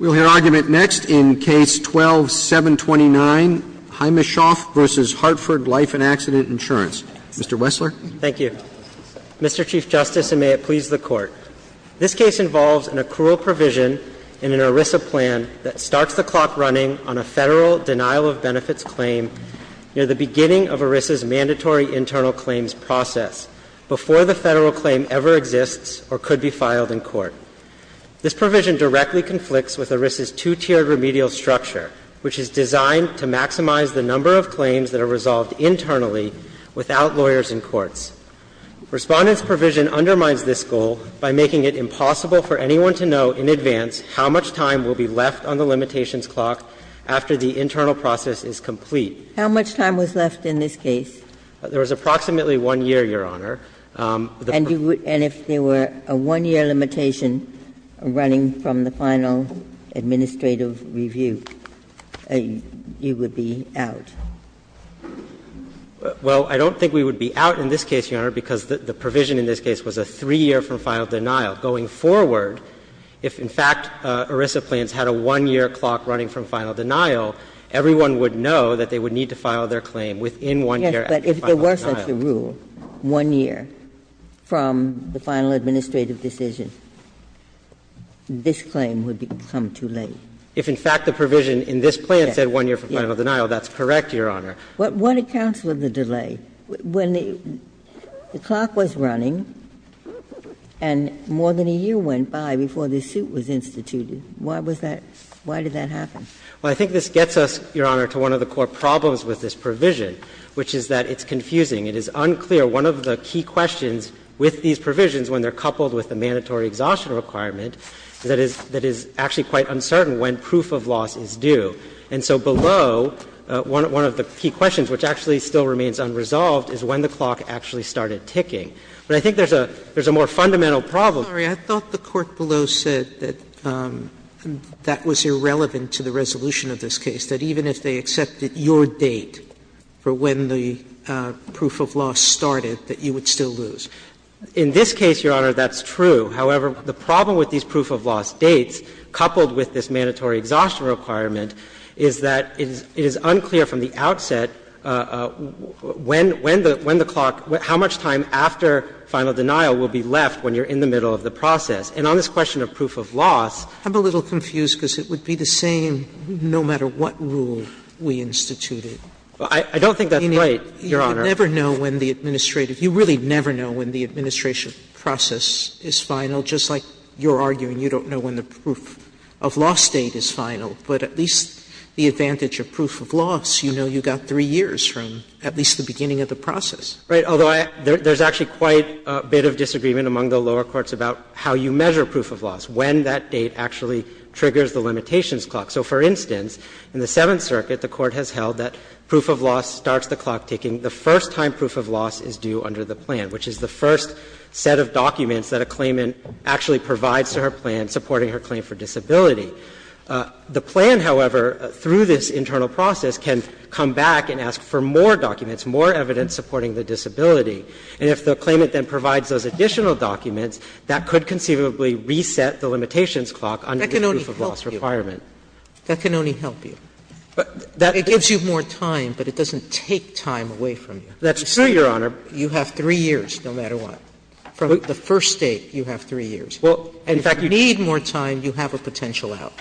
We'll hear argument next in Case 12-729, Heimeshoff v. Hartford Life & Accident Insurance. Mr. Wessler. Thank you. Mr. Chief Justice, and may it please the Court. This case involves an accrual provision in an ERISA plan that starts the clock running on a federal denial-of-benefits claim near the beginning of ERISA's mandatory internal claims process, before the federal claim ever exists or could be filed in court. This provision directly conflicts with ERISA's two-tiered remedial structure, which is designed to maximize the number of claims that are resolved internally without lawyers in courts. Respondent's provision undermines this goal by making it impossible for anyone to know in advance how much time will be left on the limitations clock after the internal process is complete. How much time was left in this case? There was approximately one year, Your Honor. And if there were a one-year limitation running from the final administrative review, you would be out? Well, I don't think we would be out in this case, Your Honor, because the provision in this case was a three-year from final denial. Going forward, if, in fact, ERISA plans had a one-year clock running from final denial, everyone would know that they would need to file their claim within one year after final denial. But if there were such a rule, one year from the final administrative decision, this claim would become too late. If, in fact, the provision in this plan said one year from final denial, that's correct, Your Honor. What accounts with the delay? When the clock was running and more than a year went by before the suit was instituted, why was that? Why did that happen? Well, I think this gets us, Your Honor, to one of the core problems with this provision, which is that it's confusing. It is unclear. One of the key questions with these provisions, when they're coupled with the mandatory exhaustion requirement, that is actually quite uncertain when proof of loss is due. And so below, one of the key questions, which actually still remains unresolved, is when the clock actually started ticking. But I think there's a more fundamental problem. Sotomayor, I thought the court below said that that was irrelevant to the resolution of this case. That even if they accepted your date for when the proof of loss started, that you would still lose. In this case, Your Honor, that's true. However, the problem with these proof of loss dates, coupled with this mandatory exhaustion requirement, is that it is unclear from the outset when the clock, how much time after final denial will be left when you're in the middle of the process. And on this question of proof of loss, I'm a little confused because it would be the same rule we instituted. I don't think that's right, Your Honor. Sotomayor, you never know when the administrative – you really never know when the administration process is final, just like you're arguing you don't know when the proof of loss date is final. But at least the advantage of proof of loss, you know you've got 3 years from at least the beginning of the process. Right. Although, there's actually quite a bit of disagreement among the lower courts about how you measure proof of loss, when that date actually triggers the limitations clock. So, for instance, in the Seventh Circuit, the Court has held that proof of loss starts the clock ticking the first time proof of loss is due under the plan, which is the first set of documents that a claimant actually provides to her plan supporting her claim for disability. The plan, however, through this internal process, can come back and ask for more documents, more evidence supporting the disability. And if the claimant then provides those additional documents, that could conceivably reset the limitations clock under the proof of loss requirement. That can only help you. It gives you more time, but it doesn't take time away from you. That's true, Your Honor. You have 3 years, no matter what. From the first date, you have 3 years. Well, in fact, you need more time, you have a potential out.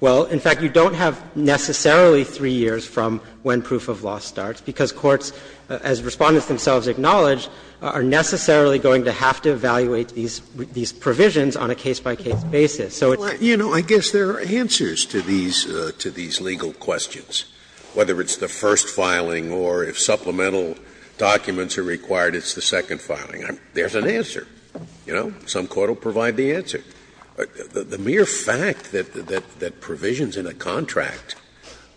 Well, in fact, you don't have necessarily 3 years from when proof of loss starts, because courts, as Respondents themselves acknowledge, are necessarily going to have to evaluate these provisions on a case-by-case basis. Scalia. Well, you know, I guess there are answers to these legal questions, whether it's the first filing or if supplemental documents are required, it's the second filing. There's an answer. You know, some court will provide the answer. The mere fact that provisions in a contract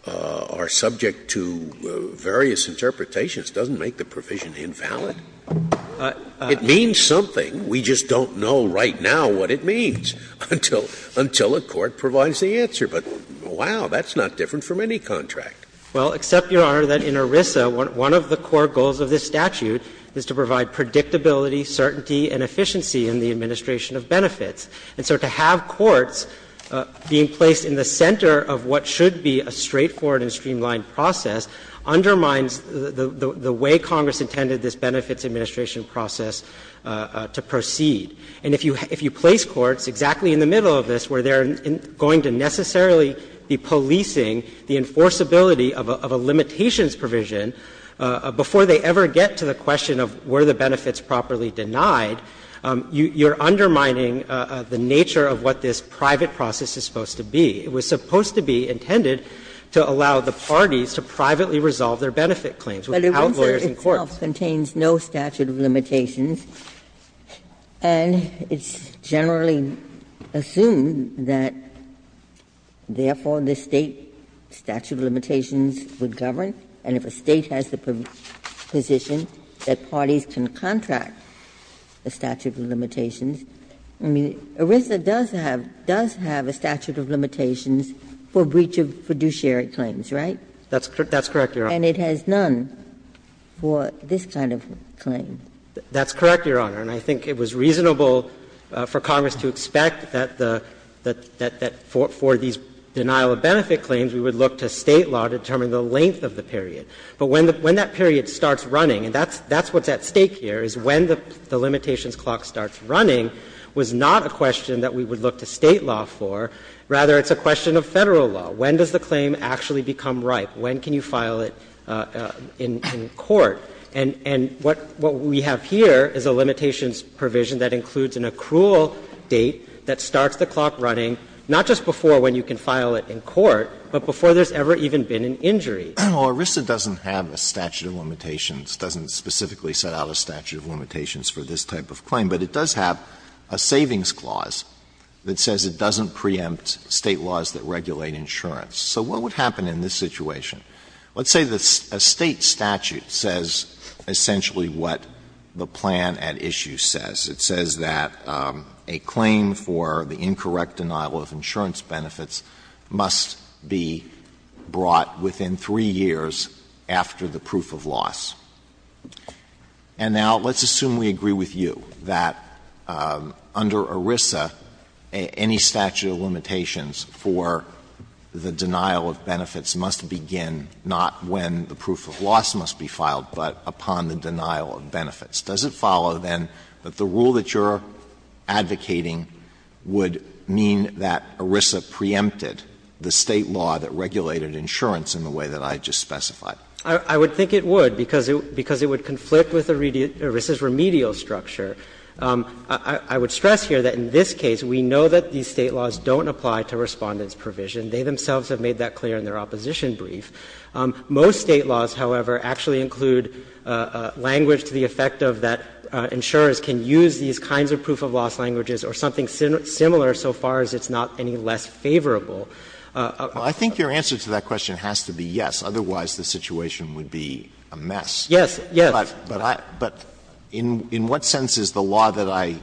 are subject to various interpretations doesn't make the provision invalid. It means something. We just don't know right now what it means until a court provides the answer. But, wow, that's not different from any contract. Well, except, Your Honor, that in ERISA, one of the core goals of this statute is to provide predictability, certainty, and efficiency in the administration of benefits. And so to have courts being placed in the center of what should be a straightforward and streamlined process undermines the way Congress intended this benefits administration process to proceed. And if you place courts exactly in the middle of this where they're going to necessarily be policing the enforceability of a limitations provision before they ever get to the question of were the benefits properly denied, you're undermining the nature of what this private process is supposed to be. It was supposed to be intended to allow the parties to privately resolve their benefit claims without lawyers in court. Ginsburg. And it's generally assumed that, therefore, the State statute of limitations would govern, and if a State has the position that parties can contract the statute of limitations, I mean, ERISA does have a statute of limitations for breach of fiduciary claims, right? That's correct, Your Honor. And it has none for this kind of claim. That's correct, Your Honor. And I think it was reasonable for Congress to expect that the – that for these denial-of-benefit claims, we would look to State law to determine the length of the period. But when that period starts running, and that's what's at stake here, is when the limitations clock starts running was not a question that we would look to State law for. Rather, it's a question of Federal law. When does the claim actually become ripe? When can you file it in court? And what we have here is a limitations provision that includes an accrual date that starts the clock running, not just before when you can file it in court, but before there's ever even been an injury. Alitoso, doesn't have a statute of limitations, doesn't specifically set out a statute of limitations for this type of claim, but it does have a savings clause that says it doesn't preempt State laws that regulate insurance. So what would happen in this situation? Let's say a State statute says essentially what the plan at issue says. It says that a claim for the incorrect denial of insurance benefits must be brought within three years after the proof of loss. And now, let's assume we agree with you that under ERISA, any statute of limitations for the denial of benefits must begin not when the proof of loss must be filed, but upon the denial of benefits. Does it follow, then, that the rule that you're advocating would mean that ERISA preempted the State law that regulated insurance in the way that I just specified? I would think it would, because it would conflict with ERISA's remedial structure. I would stress here that in this case, we know that these State laws don't apply to Respondent's provision. They themselves have made that clear in their opposition brief. Most State laws, however, actually include language to the effect of that insurers can use these kinds of proof of loss languages or something similar so far as it's not any less favorable. Alitoso, I think your answer to that question has to be yes, otherwise the situation would be a mess. Yes. Yes. But in what sense is the law that I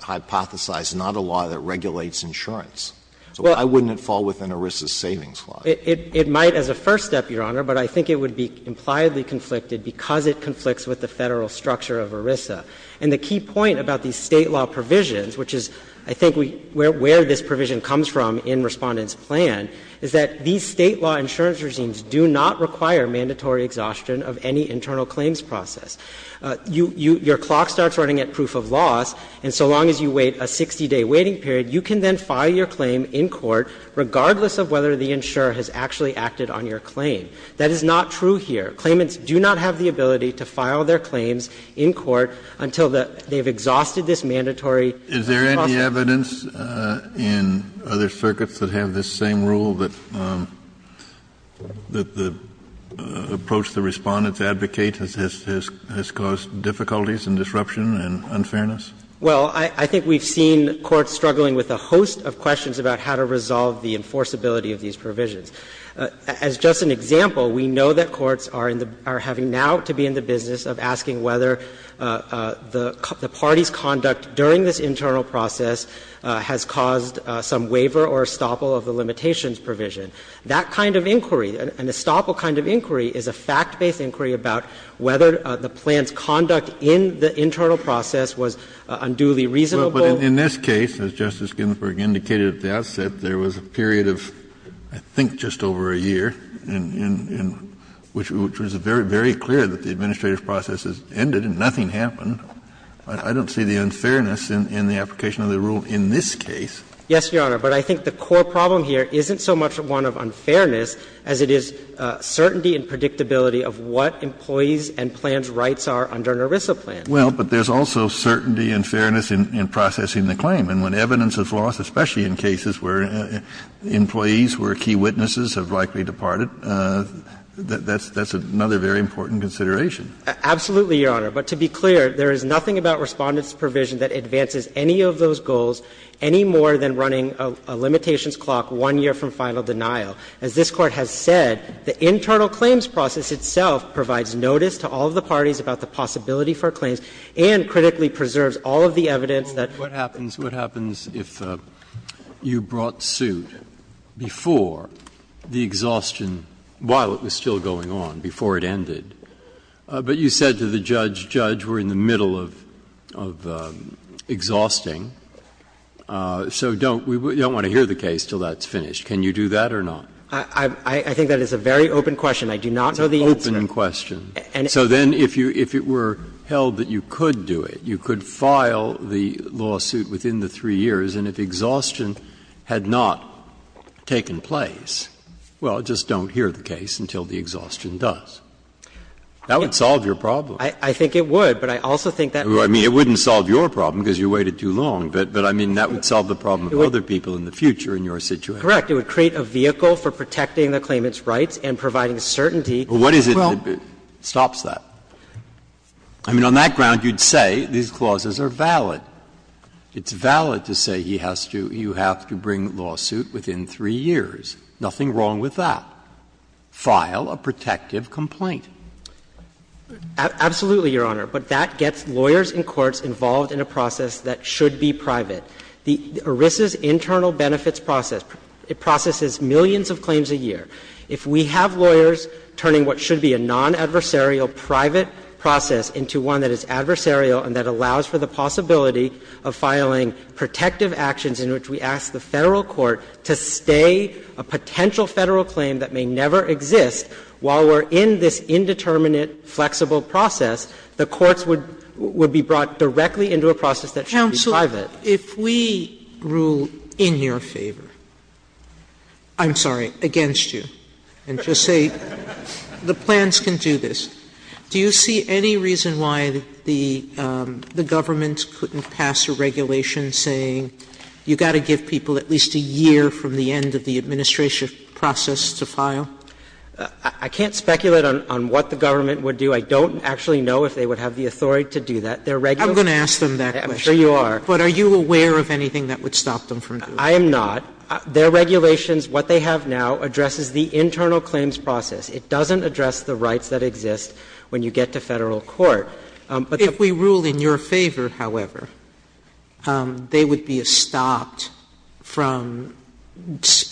hypothesized not a law that regulates insurance? So why wouldn't it fall within ERISA's savings law? It might as a first step, Your Honor, but I think it would be impliedly conflicted because it conflicts with the Federal structure of ERISA. And the key point about these State law provisions, which is, I think, where this provision comes from in Respondent's plan, is that these State law insurance regimes do not require mandatory exhaustion of any internal claims process. Your clock starts running at proof of loss, and so long as you wait a 60-day waiting period, you can then file your claim in court regardless of whether the insurer has actually acted on your claim. That is not true here. Claimants do not have the ability to file their claims in court until they have exhausted this mandatory process. Kennedy, is there any evidence in other circuits that have this same rule that the approach the Respondents advocate has caused difficulties and disruption and unfairness? Well, I think we've seen courts struggling with a host of questions about how to resolve the enforceability of these provisions. As just an example, we know that courts are in the – are having now to be in the business of asking whether the party's conduct during this internal process has caused some waiver or estoppel of the limitations provision. That kind of inquiry, an estoppel kind of inquiry, is a fact-based inquiry about whether the plan's conduct in the internal process was unduly reasonable. But in this case, as Justice Ginsburg indicated at the outset, there was a period of, I think, just over a year, and which was very, very clear that the administrative process has ended and nothing happened. I don't see the unfairness in the application of the rule in this case. Yes, Your Honor. But I think the core problem here isn't so much one of unfairness as it is certainty and predictability of what employees and plans' rights are under an ERISA plan. Well, but there's also certainty and fairness in processing the claim. And when evidence is lost, especially in cases where employees, where key witnesses have likely departed, that's another very important consideration. Absolutely, Your Honor. But to be clear, there is nothing about Respondents' provision that advances any of those goals any more than running a limitations clock one year from final denial. As this Court has said, the internal claims process itself provides notice to all of the parties about the possibility for claims and critically preserves all of the evidence that the plaintiffs' claims are not in violation. Breyer, what happens if you brought suit before the exhaustion, while it was still exhausting, so we don't want to hear the case until that's finished, can you do that or not? I think that is a very open question. I do not know the answer. It's an open question. So then if it were held that you could do it, you could file the lawsuit within the 3 years, and if the exhaustion had not taken place, well, just don't hear the case until the exhaustion does. That would solve your problem. I think it would, but I also think that would not solve your problem. Because you waited too long, but I mean, that would solve the problem of other people in the future in your situation. Correct. It would create a vehicle for protecting the claimant's rights and providing certainty. Well, what is it that stops that? I mean, on that ground, you would say these clauses are valid. It's valid to say he has to, you have to bring lawsuit within 3 years. Nothing wrong with that. File a protective complaint. Absolutely, Your Honor. But that gets lawyers and courts involved in a process that should be private. The ERISA's internal benefits process, it processes millions of claims a year. If we have lawyers turning what should be a non-adversarial private process into one that is adversarial and that allows for the possibility of filing protective actions in which we ask the Federal court to stay a potential Federal claim that may never exist, while we're in this indeterminate, flexible process, the courts would be brought directly into a process that should be private. Sotomayor, if we rule in your favor, I'm sorry, against you, and just say the plans can do this, do you see any reason why the government couldn't pass a regulation saying you've got to give people at least a year from the end of the administration process to file? I can't speculate on what the government would do. I don't actually know if they would have the authority to do that. They're regular. I'm going to ask them that question. I'm sure you are. But are you aware of anything that would stop them from doing that? I am not. Their regulations, what they have now, addresses the internal claims process. It doesn't address the rights that exist when you get to Federal court. Sotomayor, if we rule in your favor, however, they would be stopped from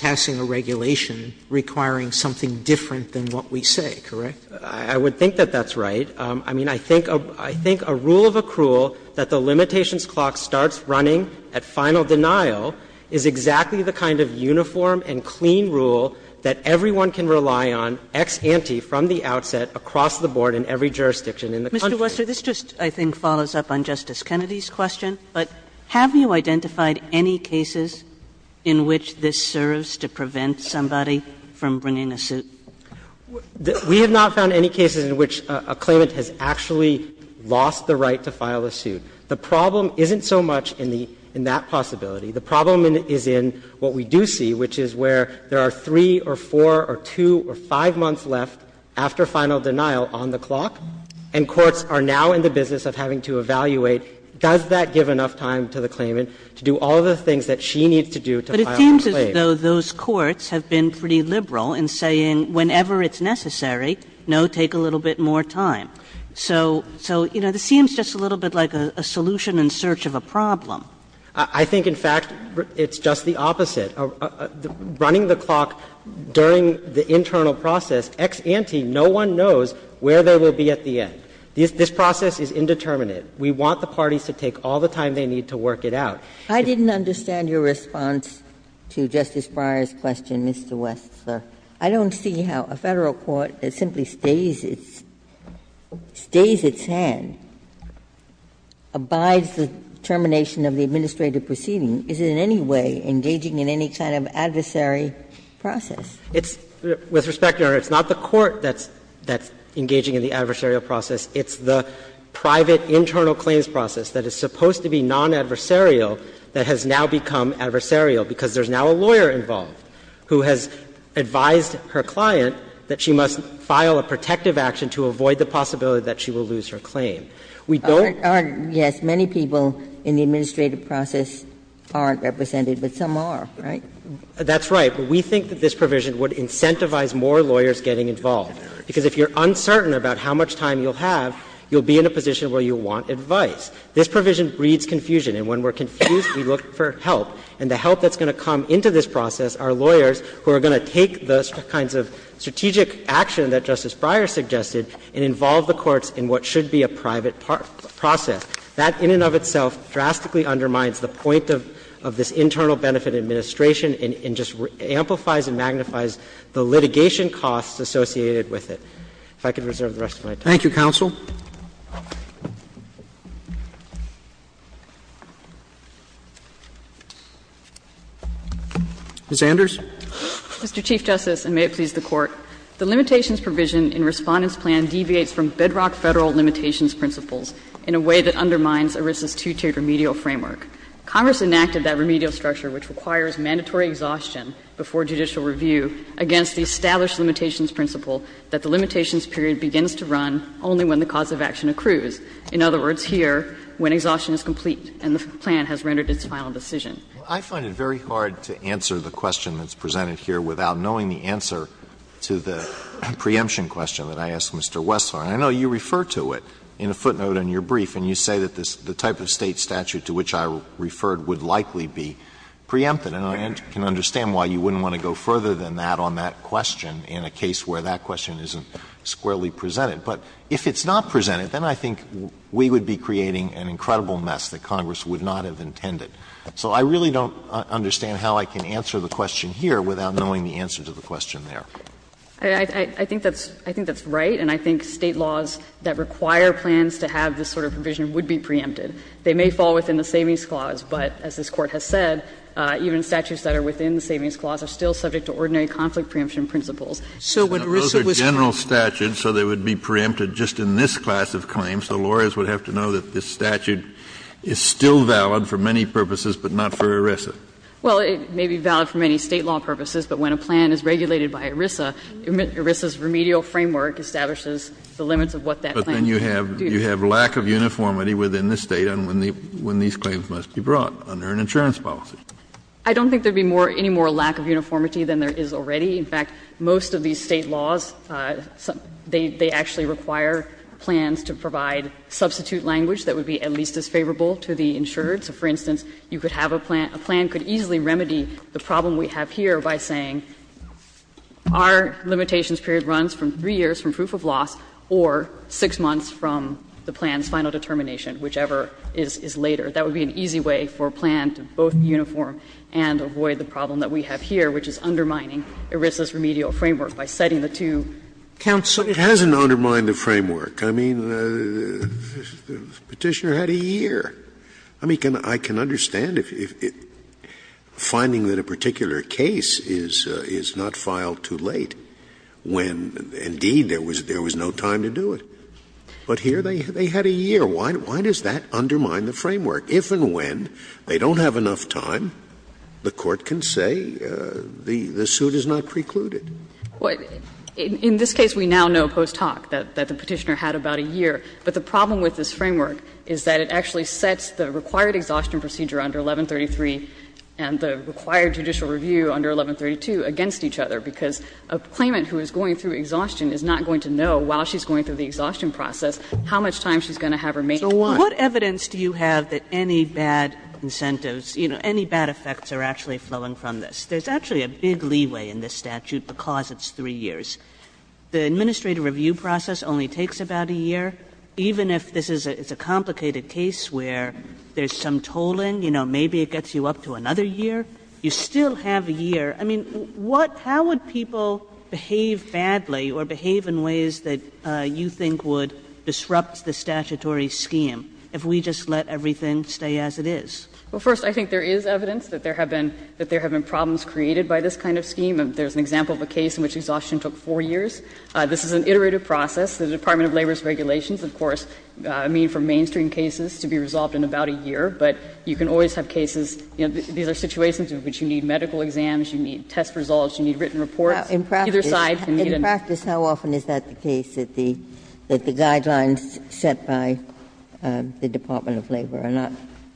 passing a regulation requiring something different than what we say, correct? I would think that that's right. I mean, I think a rule of accrual that the limitations clock starts running at final denial is exactly the kind of uniform and clean rule that everyone can rely on ex ante from the outset across the board in every jurisdiction in the country. Mr. Wessler, this just, I think, follows up on Justice Kennedy's question, but have you identified any cases in which this serves to prevent somebody from bringing a suit? We have not found any cases in which a claimant has actually lost the right to file a suit. The problem isn't so much in the – in that possibility. The problem is in what we do see, which is where there are three or four or two or five months left after final denial on the clock, and courts are now in the business of having to evaluate, does that give enough time to the claimant to do all the things that she needs to do to file a claim. But it seems as though those courts have been pretty liberal in saying whenever it's necessary, no, take a little bit more time. So, you know, this seems just a little bit like a solution in search of a problem. I think, in fact, it's just the opposite. Running the clock during the internal process, ex ante, no one knows where they will be at the end. This process is indeterminate. We want the parties to take all the time they need to work it out. I didn't understand your response to Justice Breyer's question, Mr. Wessler. I don't see how a Federal court that simply stays its – stays its hand, abides the termination of the administrative proceeding, is in any way engaging in any kind of adversary process. Wessler, It's – with respect, Your Honor, it's not the court that's engaging in the adversarial process. It's the private internal claims process that is supposed to be non-adversarial that has now become adversarial, because there's now a lawyer involved who has advised her client that she must file a protective action to avoid the possibility that she will lose her claim. We don't – Ginsburg, Yes, many people in the administrative process aren't represented, but some are, right? Wessler, That's right. But we think that this provision would incentivize more lawyers getting involved, because if you're uncertain about how much time you'll have, you'll be in a position where you want advice. This provision breeds confusion, and when we're confused, we look for help. And the help that's going to come into this process are lawyers who are going to take the kinds of strategic action that Justice Breyer suggested and involve the courts in what should be a private process. That, in and of itself, drastically undermines the point of this Internal Benefit Administration and just amplifies and magnifies the litigation costs associated with it. If I could reserve the rest of my time. Roberts, Thank you, counsel. Ms. Anders. Anders, Mr. Chief Justice, and may it please the Court. The limitations provision in Respondent's plan deviates from bedrock Federal limitations principles in a way that undermines ERISA's two-tiered remedial framework. Congress enacted that remedial structure, which requires mandatory exhaustion before judicial review, against the established limitations principle that the limitations period begins to run only when the cause of action accrues. In other words, here, when exhaustion is complete and the plan has rendered its final decision. Alito I find it very hard to answer the question that's presented here without knowing the answer to the preemption question that I asked Mr. Wessler. And I know you refer to it in a footnote in your brief, and you say that the type of State statute to which I referred would likely be preempted. And I can understand why you wouldn't want to go further than that on that question in a case where that question isn't squarely presented. But if it's not presented, then I think we would be creating an incredible mess that Congress would not have intended. So I really don't understand how I can answer the question here without knowing the answer to the question there. I think that's right, and I think State laws that require plans to have this sort of provision would be preempted. They may fall within the Savings Clause, but as this Court has said, even statutes that are within the Savings Clause are still subject to ordinary conflict preemption principles. Kennedy, those are general statutes, so they would be preempted just in this class of claims. The lawyers would have to know that this statute is still valid for many purposes, but not for ERISA. Well, it may be valid for many State law purposes, but when a plan is regulated by ERISA, ERISA's remedial framework establishes the limits of what that plan can do. Kennedy, but then you have lack of uniformity within the State on when these claims must be brought under an insurance policy. I don't think there would be any more lack of uniformity than there is already. In fact, most of these State laws, they actually require plans to provide substitute language that would be at least as favorable to the insured. So, for instance, you could have a plan, a plan could easily remedy the problem we have here by saying our limitations period runs from 3 years from proof of loss or 6 months from the plan's final determination, whichever is later. That would be an easy way for a plan to both uniform and avoid the problem that we have here, which is undermining ERISA's remedial framework by setting the two counts of. Scalia, it hasn't undermined the framework. I mean, the Petitioner had a year. I mean, I can understand if finding that a particular case is not filed too late when, indeed, there was no time to do it. But here they had a year. Why does that undermine the framework? If and when they don't have enough time, the Court can say the suit is not precluded. In this case, we now know post hoc that the Petitioner had about a year. But the problem with this framework is that it actually sets the required exhaustion procedure under 1133 and the required judicial review under 1132 against each other, because a claimant who is going through exhaustion is not going to know while she's going through the exhaustion process how much time she's going to have remaining. Kagan, what evidence do you have that any bad incentives, you know, any bad effects are actually flowing from this? There's actually a big leeway in this statute because it's 3 years. The administrative review process only takes about a year. Even if this is a complicated case where there's some tolling, you know, maybe it gets you up to another year, you still have a year. I mean, what – how would people behave badly or behave in ways that you think would disrupt the statutory scheme if we just let everything stay as it is? Well, first, I think there is evidence that there have been – that there have been problems created by this kind of scheme. There's an example of a case in which exhaustion took 4 years. This is an iterative process. The Department of Labor's regulations, of course, mean for mainstream cases to be resolved in about a year, but you can always have cases, you know, these are situations in which you need medical exams, you need test results, you need written reports. Either side can meet in a year. In practice, how often is that the case, that the guidelines set by the Department of Labor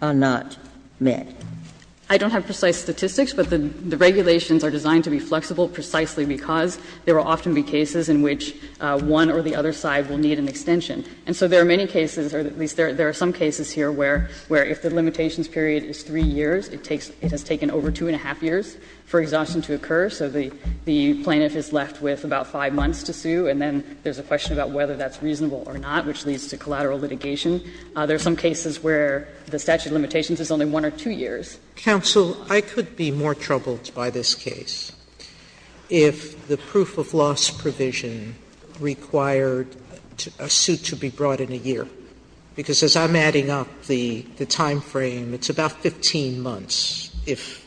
are not met? I don't have precise statistics, but the regulations are designed to be flexible precisely because there will often be cases in which one or the other side will need an extension. And so there are many cases, or at least there are some cases here where if the limitations period is 3 years, it takes – it has taken over 2-1⁄2 years for exhaustion to occur. So the plaintiff is left with about 5 months to sue, and then there's a question about whether that's reasonable or not, which leads to collateral litigation. There are some cases where the statute of limitations is only 1 or 2 years. Sotomayor's counsel, I could be more troubled by this case if the proof of loss provision required a suit to be brought in a year, because as I'm adding up the timeframe, it's about 15 months if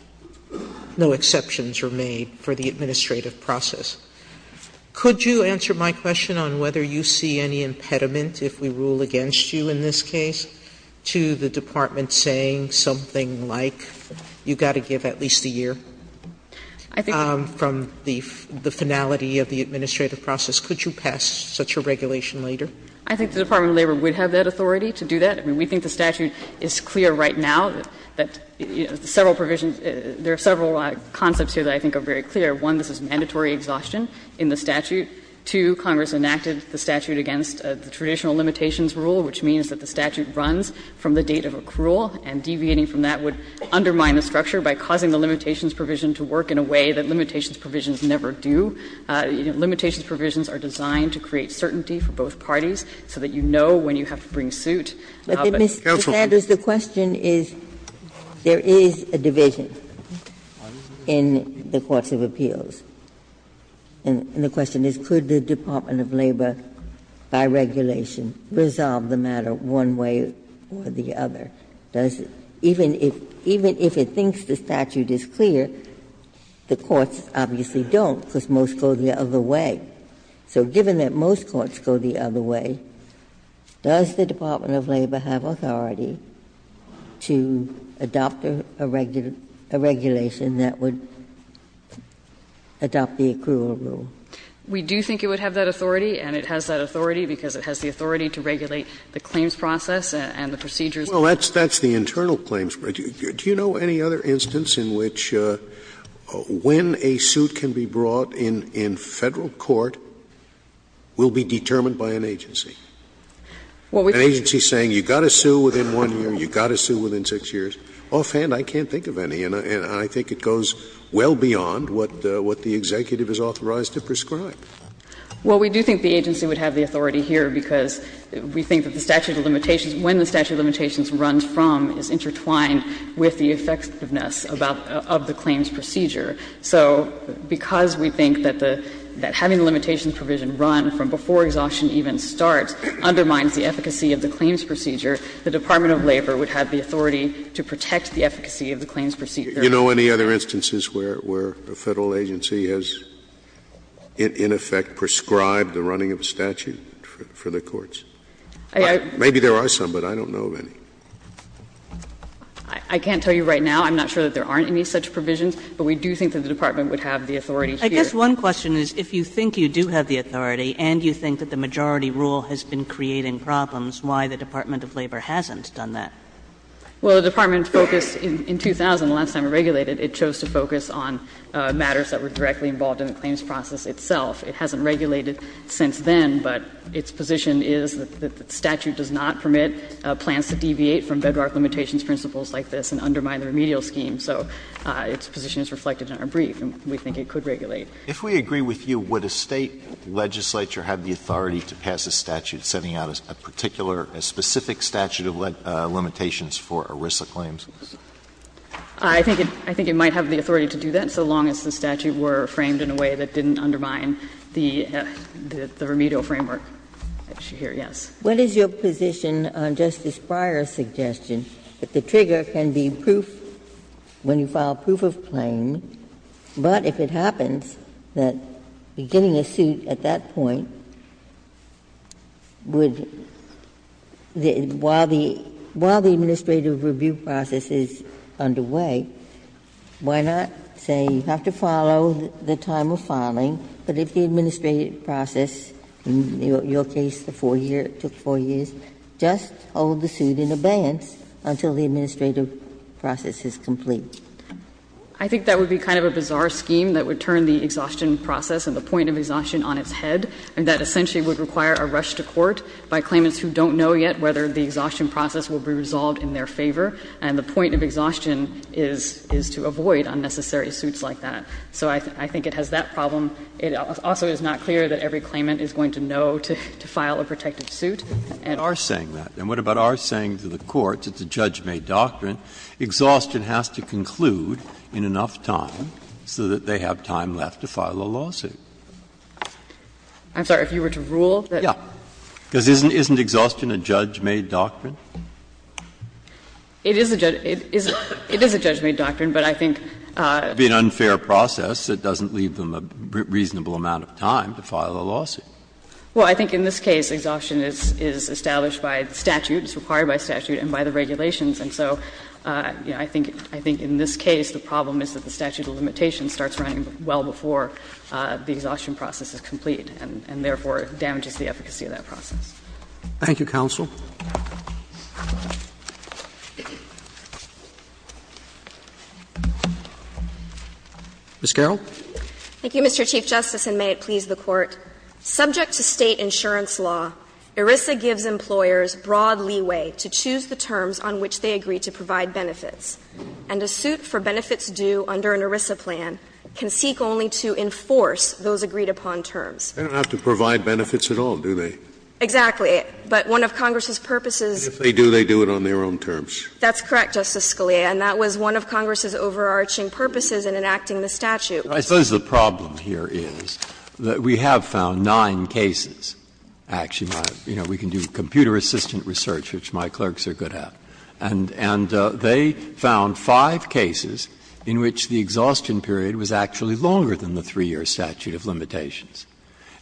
no exceptions are made for the administrative process. Could you answer my question on whether you see any impediment if we rule against you in this case to the Department saying something like you've got to give at least a year from the finality of the administrative process? Could you pass such a regulation later? I think the Department of Labor would have that authority to do that. I mean, we think the statute is clear right now that, you know, several provisions – there are several concepts here that I think are very clear. One, this is mandatory exhaustion in the statute. Two, Congress enacted the statute against the traditional limitations rule, which means that the statute runs from the date of accrual, and deviating from that would undermine the structure by causing the limitations provision to work in a way that limitations provisions never do. Limitations provisions are designed to create certainty for both parties so that you know when you have to bring suit. But the question is, there is a division in the courts of appeals, and the question is, could the Department of Labor, by regulation, resolve the matter one way or the other? Does it – even if it thinks the statute is clear, the courts obviously don't because most go the other way. So given that most courts go the other way, does the Department of Labor have authority to adopt a regulation that would adopt the accrual rule? We do think it would have that authority, and it has that authority because it has the authority to regulate the claims process and the procedures. Well, that's the internal claims. Do you know any other instance in which when a suit can be brought in Federal court will be determined by an agency? An agency saying you've got to sue within 1 year, you've got to sue within 6 years? Offhand, I can't think of any, and I think it goes well beyond what the executive is authorized to prescribe. Well, we do think the agency would have the authority here because we think that the statute of limitations, when the statute of limitations runs from, is intertwined with the effectiveness of the claims procedure. So because we think that the – that having the limitations provision run from before exhaustion even starts undermines the efficacy of the claims procedure, the Department of Labor would have the authority to protect the efficacy of the claims procedure. Do you know any other instances where a Federal agency has, in effect, prescribed the running of a statute for the courts? Maybe there are some, but I don't know of any. I can't tell you right now. I'm not sure that there aren't any such provisions, but we do think that the Department would have the authority here. I guess one question is if you think you do have the authority and you think that the majority rule has been creating problems, why the Department of Labor hasn't done that? Well, the Department focused in 2000, the last time it regulated, it chose to focus on matters that were directly involved in the claims process itself. It hasn't regulated since then, but its position is that the statute does not permit plans to deviate from bedrock limitations principles like this and undermine the remedial scheme. So its position is reflected in our brief, and we think it could regulate. If we agree with you, would a State legislature have the authority to pass a statute setting out a particular, a specific statute of limitations for ERISA claims? I think it might have the authority to do that, so long as the statute were framed in a way that didn't undermine the remedial framework. Yes. Ginsburg. What is your position on Justice Breyer's suggestion that the trigger can be proof when you file proof of claim, but if it happens that beginning a suit at that point would, while the, while the administrative review process is underway, why not say you have to follow the time of filing, but if the administrative process, in your case, the 4-year, it took 4 years, just hold the suit in abeyance until the administrative process is complete? I think that would be kind of a bizarre scheme that would turn the exhaustion process and the point of exhaustion on its head, and that essentially would require a rush to court by claimants who don't know yet whether the exhaustion process will be resolved in their favor, and the point of exhaustion is, is to avoid unnecessary suits like that. So I think it has that problem. It also is not clear that every claimant is going to know to file a protective suit. And our saying that, and what about our saying to the courts, it's a judge-made doctrine, exhaustion has to conclude in enough time so that they have time left to file a lawsuit? I'm sorry, if you were to rule that? Yeah. Because isn't exhaustion a judge-made doctrine? It is a judge-made doctrine, but I think it's an unfair process that doesn't leave them a reasonable amount of time to file a lawsuit. Well, I think in this case, exhaustion is established by statute, it's required by statute, and by the regulations. And so, you know, I think in this case, the problem is that the statute of limitations starts running well before the exhaustion process is complete, and therefore damages the efficacy of that process. Thank you, counsel. Ms. Garrell. Thank you, Mr. Chief Justice, and may it please the Court. Subject to State insurance law, ERISA gives employers broad leeway to choose the terms on which they agree to provide benefits. And a suit for benefits due under an ERISA plan can seek only to enforce those agreed-upon terms. They don't have to provide benefits at all, do they? Exactly. But one of Congress's purposes. And if they do, they do it on their own terms. That's correct, Justice Scalia, and that was one of Congress's overarching purposes in enacting the statute. I suppose the problem here is that we have found nine cases, actually, you know, we can do computer-assistant research, which my clerks are good at. And they found five cases in which the exhaustion period was actually longer than the 3-year statute of limitations.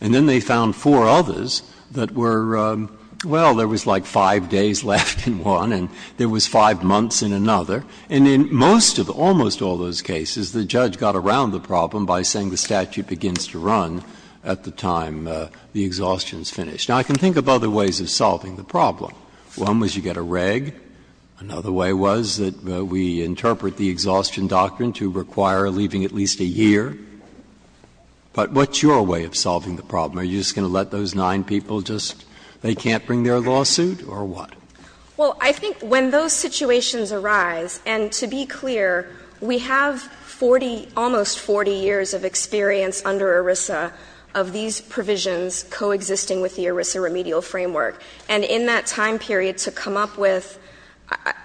And then they found four others that were, well, there was like five days left in one and there was five months in another. And in most of, almost all those cases, the judge got around the problem by saying the statute begins to run at the time the exhaustion is finished. Now, I can think of other ways of solving the problem. One was you get a reg. Another way was that we interpret the exhaustion doctrine to require leaving at least a year. But what's your way of solving the problem? Are you just going to let those nine people just they can't bring their lawsuit or what? Well, I think when those situations arise, and to be clear, we have 40, almost 40 years of experience under ERISA of these provisions coexisting with the ERISA remedial framework. And in that time period, to come up with,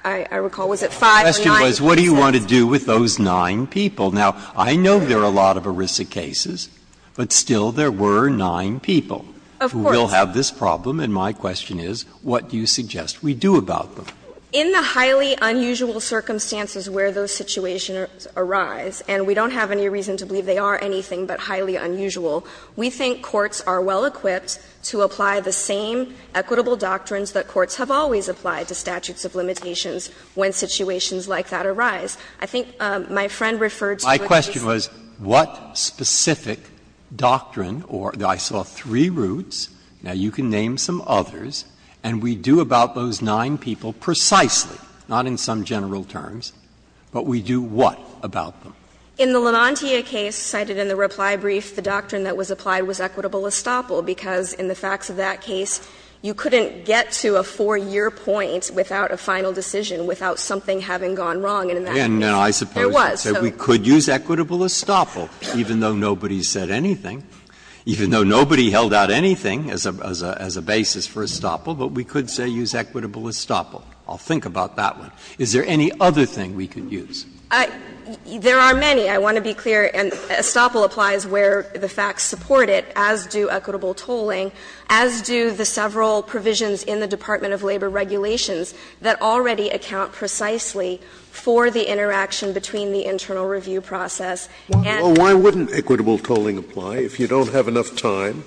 I recall, was it five or nine cases? The question was what do you want to do with those nine people? Now, I know there are a lot of ERISA cases, but still there were nine people who will have this problem. And my question is what do you suggest we do about them? In the highly unusual circumstances where those situations arise, and we don't have any reason to believe they are anything but highly unusual, we think courts are well prepared to apply the equitable doctrines that courts have always applied to statutes of limitations when situations like that arise. I think my friend referred to a case of the Levantia case, and I think that's a good question. Breyer. My question was what specific doctrine, or I saw three routes, now you can name some others, and we do about those nine people precisely, not in some general terms, but we do what about them? In the Levantia case cited in the reply brief, the doctrine that was applied was equitable estoppel, because in the facts of that case, you couldn't get to a 4-year point without a final decision, without something having gone wrong. And in that case, there was. Breyer. And I suppose you could use equitable estoppel, even though nobody said anything, even though nobody held out anything as a basis for estoppel, but we could say use equitable estoppel. I'll think about that one. Is there any other thing we could use? There are many. I want to be clear. Estoppel applies where the facts support it, as do equitable tolling, as do the several provisions in the Department of Labor regulations that already account precisely for the interaction between the internal review process and the internal review. Scalia. Well, why wouldn't equitable tolling apply? If you don't have enough time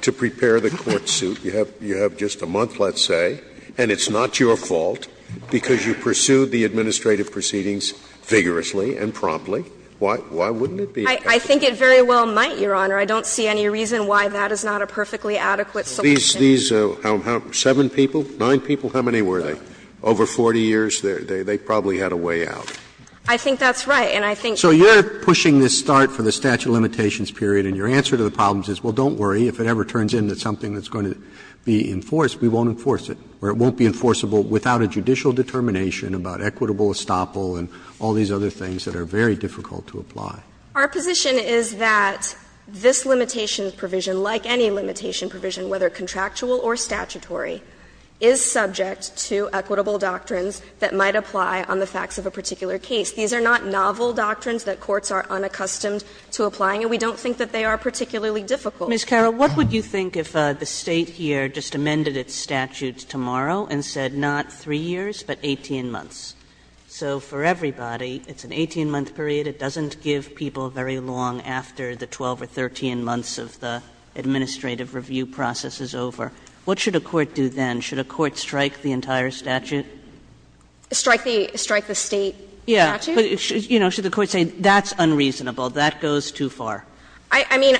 to prepare the court suit, you have just a month, let's say, and it's not your fault because you pursued the administrative proceedings vigorously and promptly. Why wouldn't it be? I think it very well might, Your Honor. I don't see any reason why that is not a perfectly adequate solution. These, these, how many, seven people, nine people, how many were they? Over 40 years, they probably had a way out. I think that's right, and I think. So you're pushing this start for the statute of limitations period, and your answer to the problem is, well, don't worry, if it ever turns into something that's going to be enforced, we won't enforce it, or it won't be enforceable without a judicial determination about equitable estoppel and all these other things that are very difficult to apply. Our position is that this limitations provision, like any limitation provision, whether contractual or statutory, is subject to equitable doctrines that might apply on the facts of a particular case. These are not novel doctrines that courts are unaccustomed to applying, and we don't think that they are particularly difficult. Ms. Carroll, what would you think if the State here just amended its statutes tomorrow and said, not 3 years, but 18 months? So for everybody, it's an 18-month period. It doesn't give people very long after the 12 or 13 months of the administrative review process is over. What should a court do then? Should a court strike the entire statute? Strike the State statute? Yeah, but, you know, should the court say, that's unreasonable, that goes too far? I mean,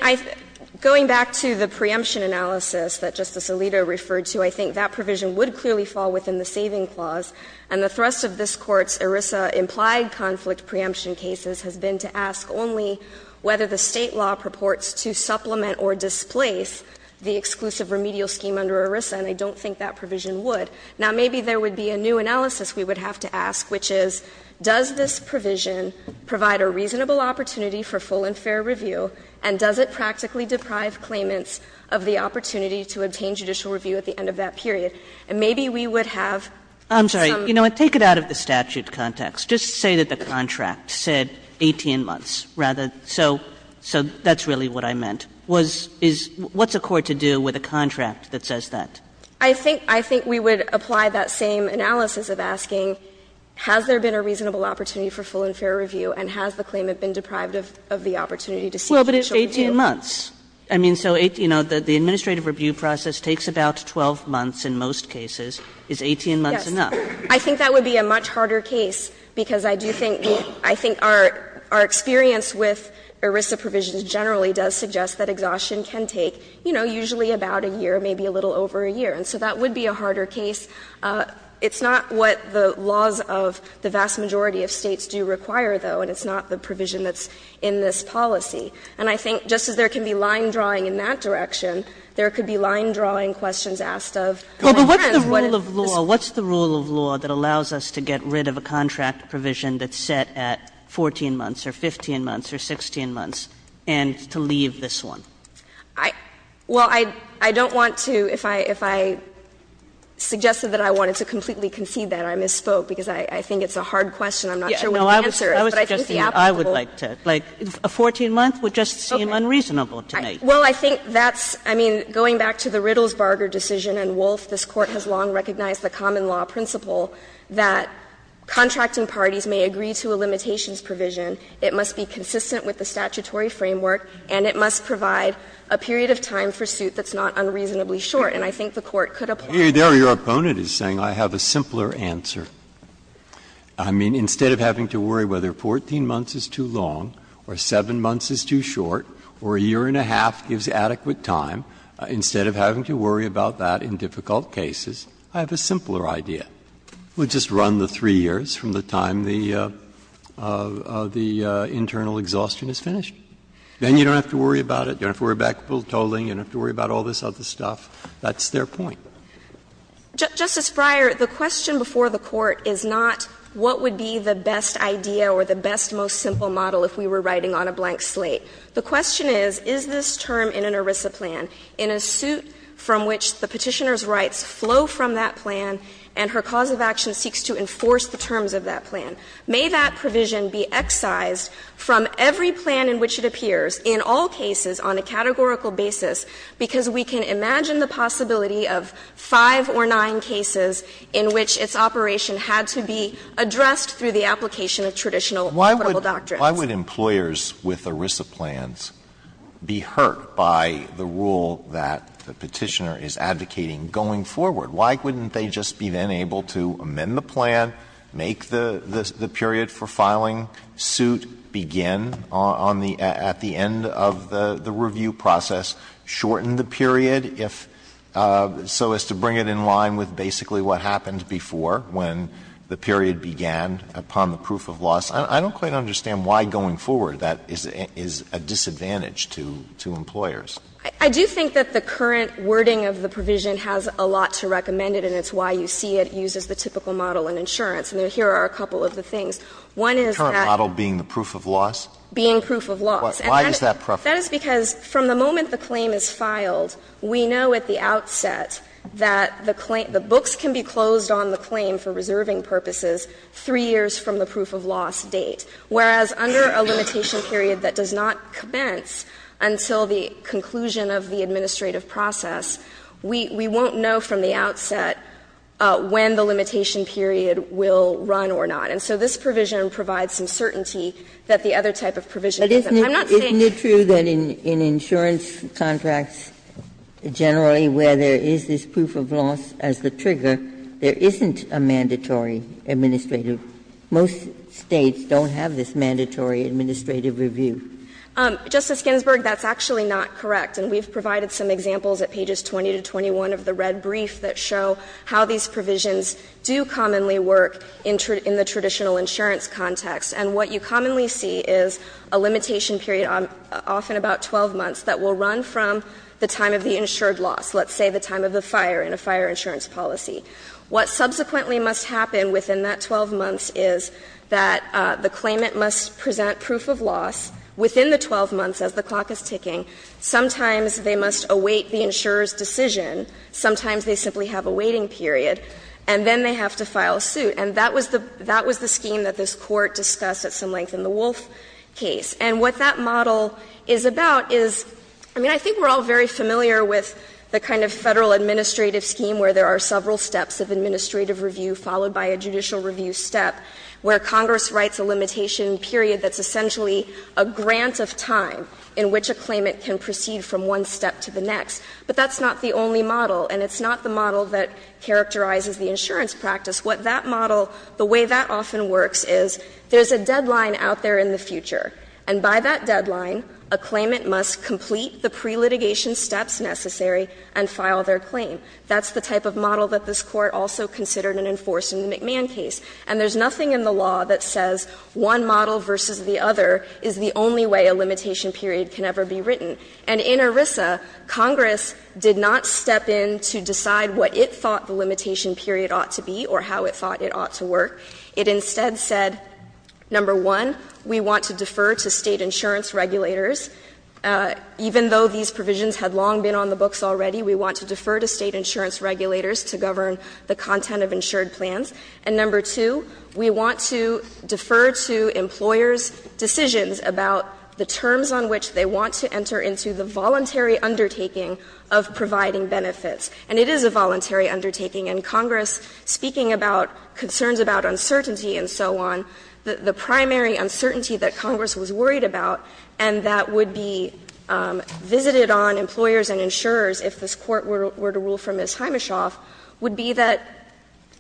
going back to the preemption analysis that Justice Alito referred to, I think that provision would clearly fall within the saving clause. And the thrust of this Court's ERISA-implied conflict preemption cases has been to ask only whether the State law purports to supplement or displace the exclusive remedial scheme under ERISA, and I don't think that provision would. Now, maybe there would be a new analysis we would have to ask, which is, does this provision provide a reasonable opportunity for full and fair review, and does it practically deprive claimants of the opportunity to obtain judicial review at the end of that period? And maybe we would have some of these. Kagan, I'm sorry, you know what, take it out of the statute context. Just say that the contract said 18 months, rather, so that's really what I meant. Was — is — what's a court to do with a contract that says that? I think — I think we would apply that same analysis of asking, has there been a reasonable opportunity for full and fair review, and has the claimant been deprived of the opportunity to seek judicial review? But it's 18 months. I mean, so, you know, the administrative review process takes about 12 months in most cases. Is 18 months enough? Yes. I think that would be a much harder case, because I do think — I think our experience with ERISA provisions generally does suggest that exhaustion can take, you know, usually about a year, maybe a little over a year. And so that would be a harder case. It's not what the laws of the vast majority of States do require, though, and it's not the provision that's in this policy. And I think just as there can be line drawing in that direction, there could be line drawing questions asked of — Well, but what's the rule of law — what's the rule of law that allows us to get rid of a contract provision that's set at 14 months or 15 months or 16 months and to leave this one? I — well, I — I don't want to — if I — if I suggested that I wanted to completely concede that, I misspoke, because I — I think it's a hard question. I'm not sure what the answer is. Yeah. No, I was — I was suggesting that I would like to — like, a 14-month? That would just seem unreasonable to me. Well, I think that's — I mean, going back to the Riddles-Barger decision and Wolf, this Court has long recognized the common law principle that contracting parties may agree to a limitations provision, it must be consistent with the statutory framework, and it must provide a period of time for suit that's not unreasonably short. And I think the Court could apply that. Here, your opponent is saying, I have a simpler answer. I mean, instead of having to worry whether 14 months is too long or 7 months is too short or a year and a half gives adequate time, instead of having to worry about that in difficult cases, I have a simpler idea. We'll just run the 3 years from the time the — the internal exhaustion is finished. Then you don't have to worry about it. You don't have to worry about totaling. You don't have to worry about all this other stuff. That's their point. Justice Breyer, the question before the Court is not what would be the best idea or the best, most simple model if we were writing on a blank slate. The question is, is this term in an ERISA plan, in a suit from which the Petitioner's rights flow from that plan and her cause of action seeks to enforce the terms of that plan? May that provision be excised from every plan in which it appears in all cases on a 5 or 9 cases in which its operation had to be addressed through the application of traditional equitable doctrines? Alito Why would employers with ERISA plans be hurt by the rule that the Petitioner is advocating going forward? Why wouldn't they just be then able to amend the plan, make the period for filing suit begin on the — at the end of the review process, shorten the period if — so as to bring it in line with basically what happened before, when the period began upon the proof of loss? I don't quite understand why going forward that is a disadvantage to employers. I do think that the current wording of the provision has a lot to recommend it, and it's why you see it used as the typical model in insurance. And here are a couple of the things. One is that — The current model being the proof of loss? Being proof of loss. Why does that prefer it? That is because from the moment the claim is filed, we know at the outset that the claim — the books can be closed on the claim for reserving purposes three years from the proof of loss date, whereas under a limitation period that does not commence until the conclusion of the administrative process, we — we won't know from the outset when the limitation period will run or not. And so this provision provides some certainty that the other type of provision I'm not saying that the other type of provision doesn't. Ginsburg But in insurance contracts generally where there is this proof of loss as the trigger, there isn't a mandatory administrative — most States don't have this mandatory administrative review. Justice Ginsburg, that's actually not correct, and we've provided some examples at pages 20 to 21 of the red brief that show how these provisions do commonly work in the traditional insurance context. And what you commonly see is a limitation period, often about 12 months, that will run from the time of the insured loss, let's say the time of the fire in a fire insurance policy. What subsequently must happen within that 12 months is that the claimant must present proof of loss within the 12 months as the clock is ticking. Sometimes they must await the insurer's decision. Sometimes they simply have a waiting period. And then they have to file a suit. And that was the scheme that this Court discussed at some length in the Wolf case. And what that model is about is, I mean, I think we're all very familiar with the kind of Federal administrative scheme where there are several steps of administrative review followed by a judicial review step, where Congress writes a limitation period that's essentially a grant of time in which a claimant can proceed from one step to the next. But that's not the only model, and it's not the model that characterizes the insurance practice. What that model, the way that often works is there's a deadline out there in the future, and by that deadline, a claimant must complete the pre-litigation steps necessary and file their claim. That's the type of model that this Court also considered and enforced in the McMahon case. And there's nothing in the law that says one model versus the other is the only way a limitation period can ever be written. And in ERISA, Congress did not step in to decide what it thought the limitation period ought to be or how it thought it ought to work. It instead said, number one, we want to defer to State insurance regulators. Even though these provisions had long been on the books already, we want to defer to State insurance regulators to govern the content of insured plans. And number two, we want to defer to employers' decisions about the terms on which they want to enter into the voluntary undertaking of providing benefits. And it is a voluntary undertaking, and Congress, speaking about concerns about uncertainty and so on, the primary uncertainty that Congress was worried about and that would be visited on employers and insurers if this Court were to rule from Ms. Himeshoff would be that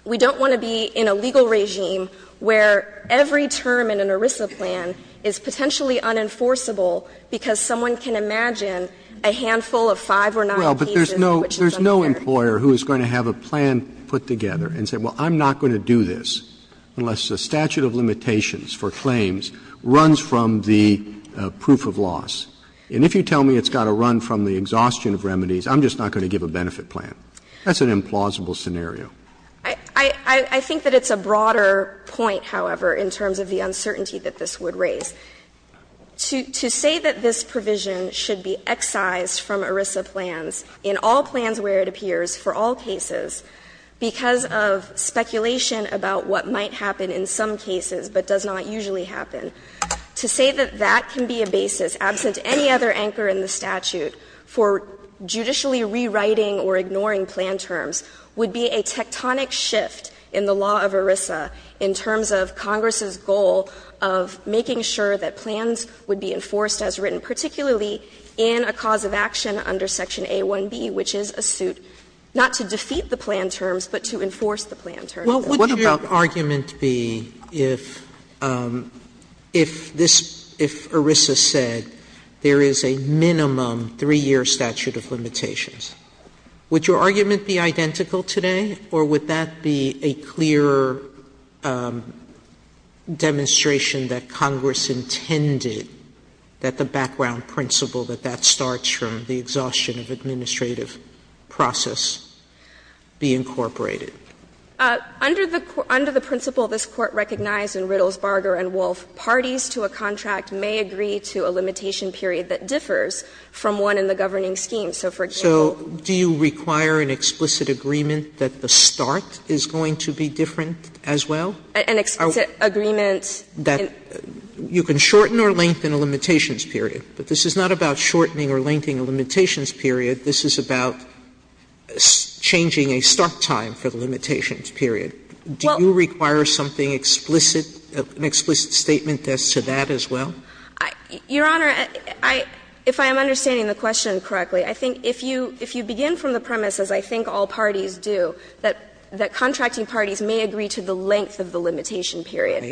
we don't want to be in a legal regime where every term in an ERISA plan is potentially unenforceable because someone can imagine a handful of five or nine cases which is unenforceable. Roberts, I would argue that if you have a new employer who is going to have a plan put together and say, well, I'm not going to do this unless the statute of limitations for claims runs from the proof of loss. And if you tell me it's got to run from the exhaustion of remedies, I'm just not going to give a benefit plan. That's an implausible scenario. I think that it's a broader point, however, in terms of the uncertainty that this would raise. To say that this provision should be excised from ERISA plans in all plans where it appears for all cases because of speculation about what might happen in some cases but does not usually happen, to say that that can be a basis absent any other anchor in the statute for judicially rewriting or ignoring plan terms would be a tectonic shift in the law of ERISA in terms of Congress's goal of making sure that plans would be enforced as written, particularly in a cause of action under section A-1b, which is a suit not to defeat the plan terms but to enforce the plan terms. Sotomayor, what about this? Sotomayor, what would your argument be if this – if ERISA said there is a minimum 3-year statute of limitations? Would your argument be identical today, or would that be a clearer demonstration that Congress intended that the background principle that that starts from the exhaustion of administrative process be incorporated? Under the principle this Court recognized in Riddles, Barger and Wolf, parties to a contract may agree to a limitation period that differs from one in the governing scheme. So, for example – Sotomayor, do you require an explicit agreement that the start is going to be different as well? An explicit agreement that – You can shorten or lengthen a limitations period, but this is not about shortening or lengthening a limitations period. This is about changing a start time for the limitations period. Do you require something explicit, an explicit statement as to that as well? Your Honor, I – if I am understanding the question correctly, I think if you – if you begin from the premise, as I think all parties do, that contracting parties may agree to the length of the limitation period,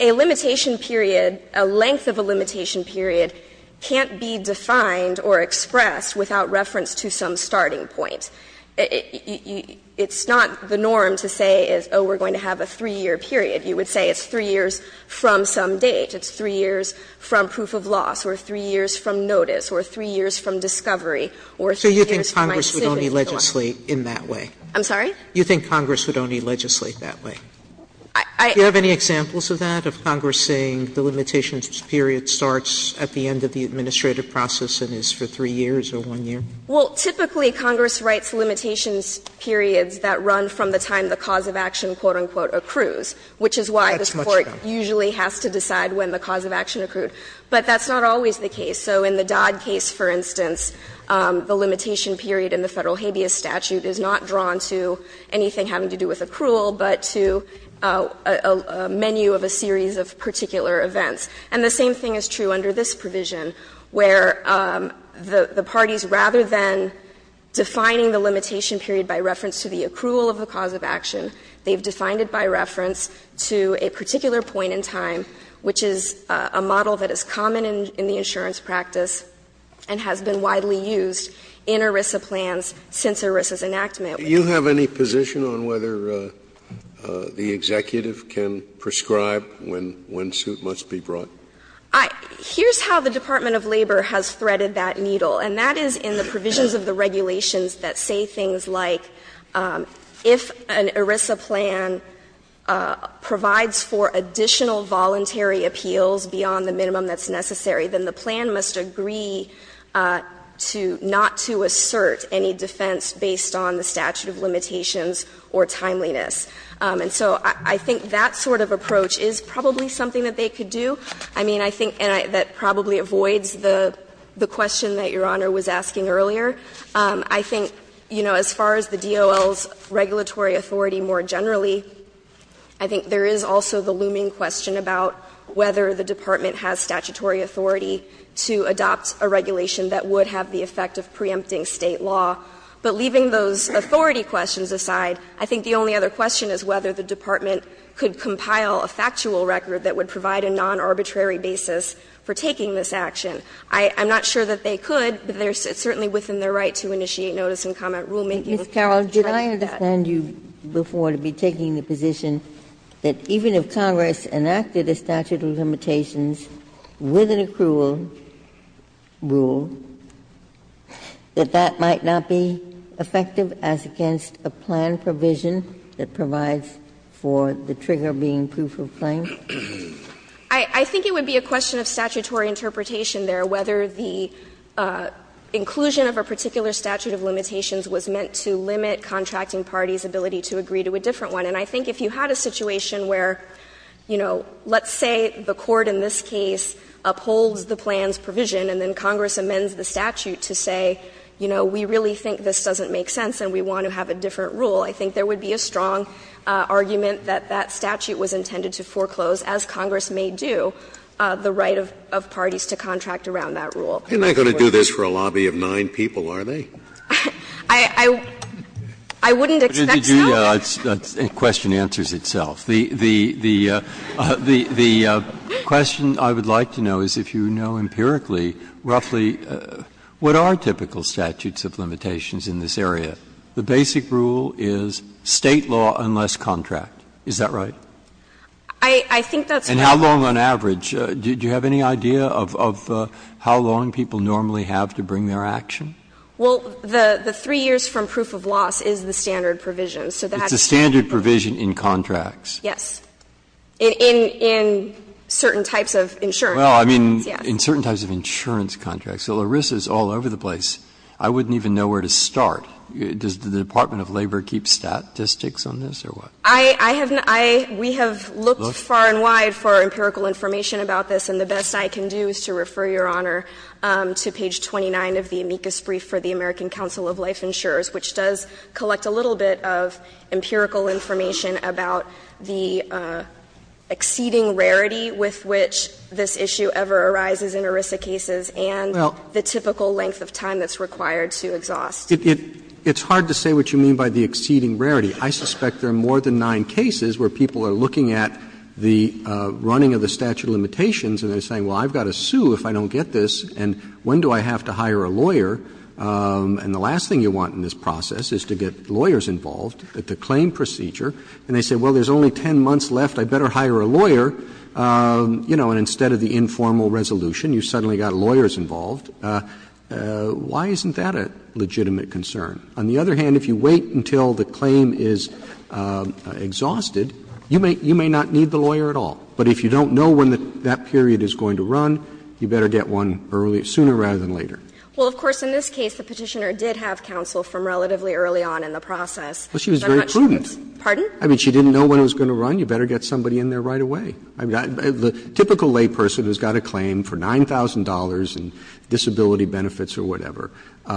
a limitation period, a length of a limitation period can't be defined or expressed without reference to some starting point. It's not the norm to say, oh, we're going to have a 3-year period. You would say it's 3 years from some date, it's 3 years from proof of loss, or 3 years from notice, or 3 years from discovery, or 3 years from my decision to go on. Sotomayor, do you think Congress would only legislate in that way? I'm sorry? You think Congress would only legislate that way? I – I – Do you have any examples of that, of Congress saying the limitations period starts at the end of the administrative process and is for 3 years or 1 year? Well, typically, Congress writes limitations periods that run from the time the cause of action, quote-unquote, accrues, which is why this Court usually has to decide when the cause of action accrued. But that's not always the case. So in the Dodd case, for instance, the limitation period in the Federal habeas statute is not drawn to anything having to do with accrual, but to a menu of a series of particular events. And the same thing is true under this provision, where the parties, rather than defining the limitation period by reference to the accrual of the cause of action, they've defined it by reference to a particular point in time, which is a model that is common in the insurance practice and has been widely used in ERISA plans since ERISA's enactment. Do you have any position on whether the executive can prescribe when suit must be brought? I – here's how the Department of Labor has threaded that needle, and that is in the regulations that say things like, if an ERISA plan provides for additional voluntary appeals beyond the minimum that's necessary, then the plan must agree to not to assert any defense based on the statute of limitations or timeliness. And so I think that sort of approach is probably something that they could do. I mean, I think that probably avoids the question that Your Honor was asking earlier. I think, you know, as far as the DOL's regulatory authority more generally, I think there is also the looming question about whether the department has statutory authority to adopt a regulation that would have the effect of preempting State law. But leaving those authority questions aside, I think the only other question is whether the department could compile a factual record that would provide a non-arbitrary basis for taking this action. I'm not sure that they could, but it's certainly within their right to initiate notice and comment rulemaking. Ginsburg. Ms. Carroll, did I understand you before to be taking the position that even if Congress enacted a statute of limitations with an accrual rule, that that might not be effective as against a plan provision that provides for the trigger being proof of claim? I think it would be a question of statutory interpretation there, whether the inclusion of a particular statute of limitations was meant to limit contracting parties' ability to agree to a different one. And I think if you had a situation where, you know, let's say the Court in this case upholds the plan's provision and then Congress amends the statute to say, you know, we really think this doesn't make sense and we want to have a different rule, I think there would be a strong argument that that statute was intended to foreclose, as Congress may do, the right of parties to contract around that rule. Scalia. And they're going to do this for a lobby of nine people, are they? I wouldn't expect so. The question answers itself. The question I would like to know is if you know empirically roughly what are typical statutes of limitations in this area. The basic rule is State law unless contract. Is that right? I think that's right. And how long on average? Do you have any idea of how long people normally have to bring their action? Well, the three years from proof of loss is the standard provision. So that's the standard provision in contracts. Yes. In certain types of insurance. Well, I mean, in certain types of insurance contracts. So Larissa is all over the place. I wouldn't even know where to start. Does the Department of Labor keep statistics on this or what? I have not. We have looked far and wide for empirical information about this, and the best I can do is to refer, Your Honor, to page 29 of the amicus brief for the American Council of Life Insurers, which does collect a little bit of empirical information about the exceeding rarity with which this issue ever arises in Larissa cases and the typical length of time that's required to exhaust. It's hard to say what you mean by the exceeding rarity. I suspect there are more than nine cases where people are looking at the running of the statute of limitations and they're saying, well, I've got to sue if I don't get this, and when do I have to hire a lawyer? And the last thing you want in this process is to get lawyers involved at the claim procedure, and they say, well, there's only 10 months left, I'd better hire a lawyer, you know, and instead of the informal resolution, you suddenly got lawyers involved. Why isn't that a legitimate concern? On the other hand, if you wait until the claim is exhausted, you may not need the lawyer at all, but if you don't know when that period is going to run, you better get one sooner rather than later. Well, of course, in this case, the Petitioner did have counsel from relatively early on in the process. Well, she was very prudent. Pardon? I mean, she didn't know when it was going to run. You better get somebody in there right away. I mean, the typical layperson who's got a claim for $9,000 in disability benefits or whatever, you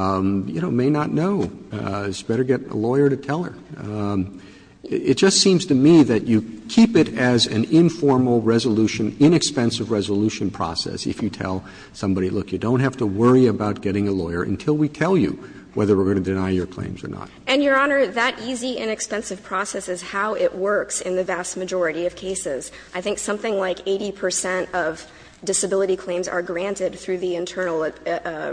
know, may not know. It's better to get a lawyer to tell her. It just seems to me that you keep it as an informal resolution, inexpensive resolution process if you tell somebody, look, you don't have to worry about getting a lawyer until we tell you whether we're going to deny your claims or not. And, Your Honor, that easy, inexpensive process is how it works in the vast majority of cases. I think something like 80 percent of disability claims are granted through the internal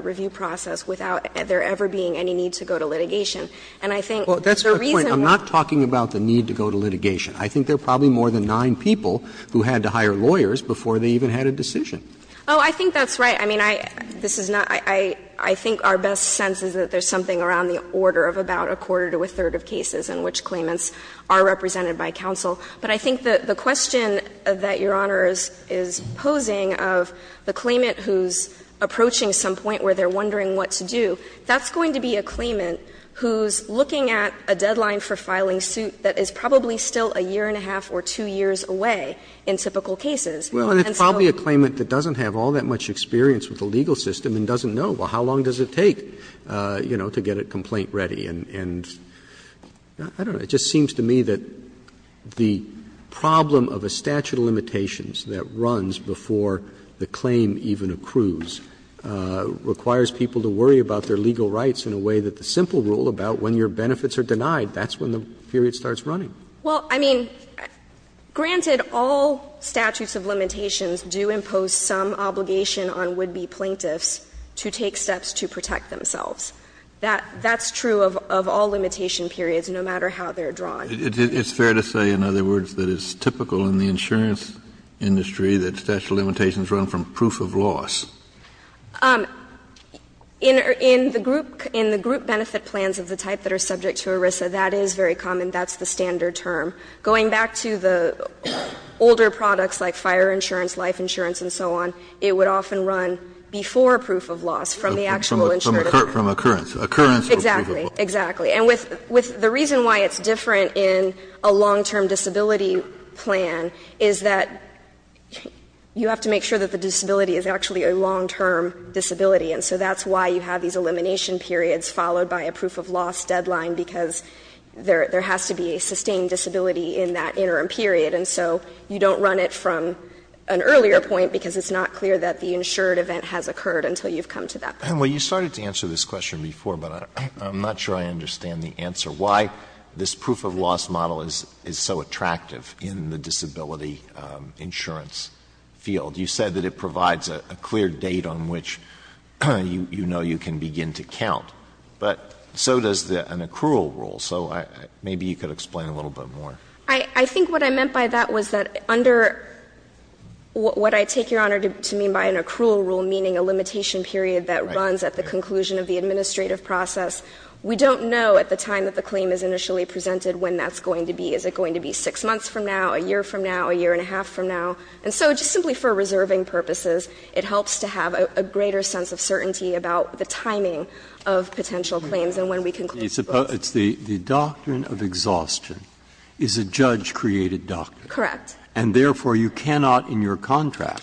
review process without there ever being any need to go to litigation. And I think the reason why. Roberts, I'm not talking about the need to go to litigation. I think there are probably more than nine people who had to hire lawyers before they even had a decision. Oh, I think that's right. I mean, I think our best sense is that there's something around the order of about a quarter to a third of cases in which claimants are represented by counsel. But I think that the question that Your Honor is posing of the claimant who's approaching some point where they're wondering what to do, that's going to be a claimant who's looking at a deadline for filing suit that is probably still a year and a half or two years away in typical cases. And so the legal system and doesn't know, well, how long does it take, you know, to get a complaint ready? And I don't know, it just seems to me that the problem of a statute of limitations that runs before the claim even accrues requires people to worry about their legal rights in a way that the simple rule about when your benefits are denied, that's when the period starts running. Well, I mean, granted, all statutes of limitations do impose some obligation on would-be plaintiffs to take steps to protect themselves. That's true of all limitation periods, no matter how they're drawn. Kennedy, it's fair to say, in other words, that it's typical in the insurance industry that statute of limitations run from proof of loss. In the group benefit plans of the type that are subject to ERISA, that is very common. That's the standard term. Going back to the older products like fire insurance, life insurance, and so on, it would often run before proof of loss from the actual insurance. From occurrence. Occurrence. Exactly. Exactly. And with the reason why it's different in a long-term disability plan is that you have to make sure that the disability is actually a long-term disability. And so that's why you have these elimination periods followed by a proof of loss deadline, because there has to be a sustained disability in that interim period. And so you don't run it from an earlier point because it's not clear that the insured event has occurred until you've come to that point. Well, you started to answer this question before, but I'm not sure I understand the answer. Why this proof of loss model is so attractive in the disability insurance field? You said that it provides a clear date on which you know you can begin to count. But so does an accrual rule. So maybe you could explain a little bit more. I think what I meant by that was that under what I take, Your Honor, to mean by an accrual rule, meaning a limitation period that runs at the conclusion of the administrative process, we don't know at the time that the claim is initially presented when that's going to be. Is it going to be six months from now, a year from now, a year and a half from now? And so just simply for reserving purposes, it helps to have a greater sense of certainty about the timing of potential claims and when we can close the book. It's the doctrine of exhaustion is a judge-created doctrine. Correct. And therefore, you cannot in your contract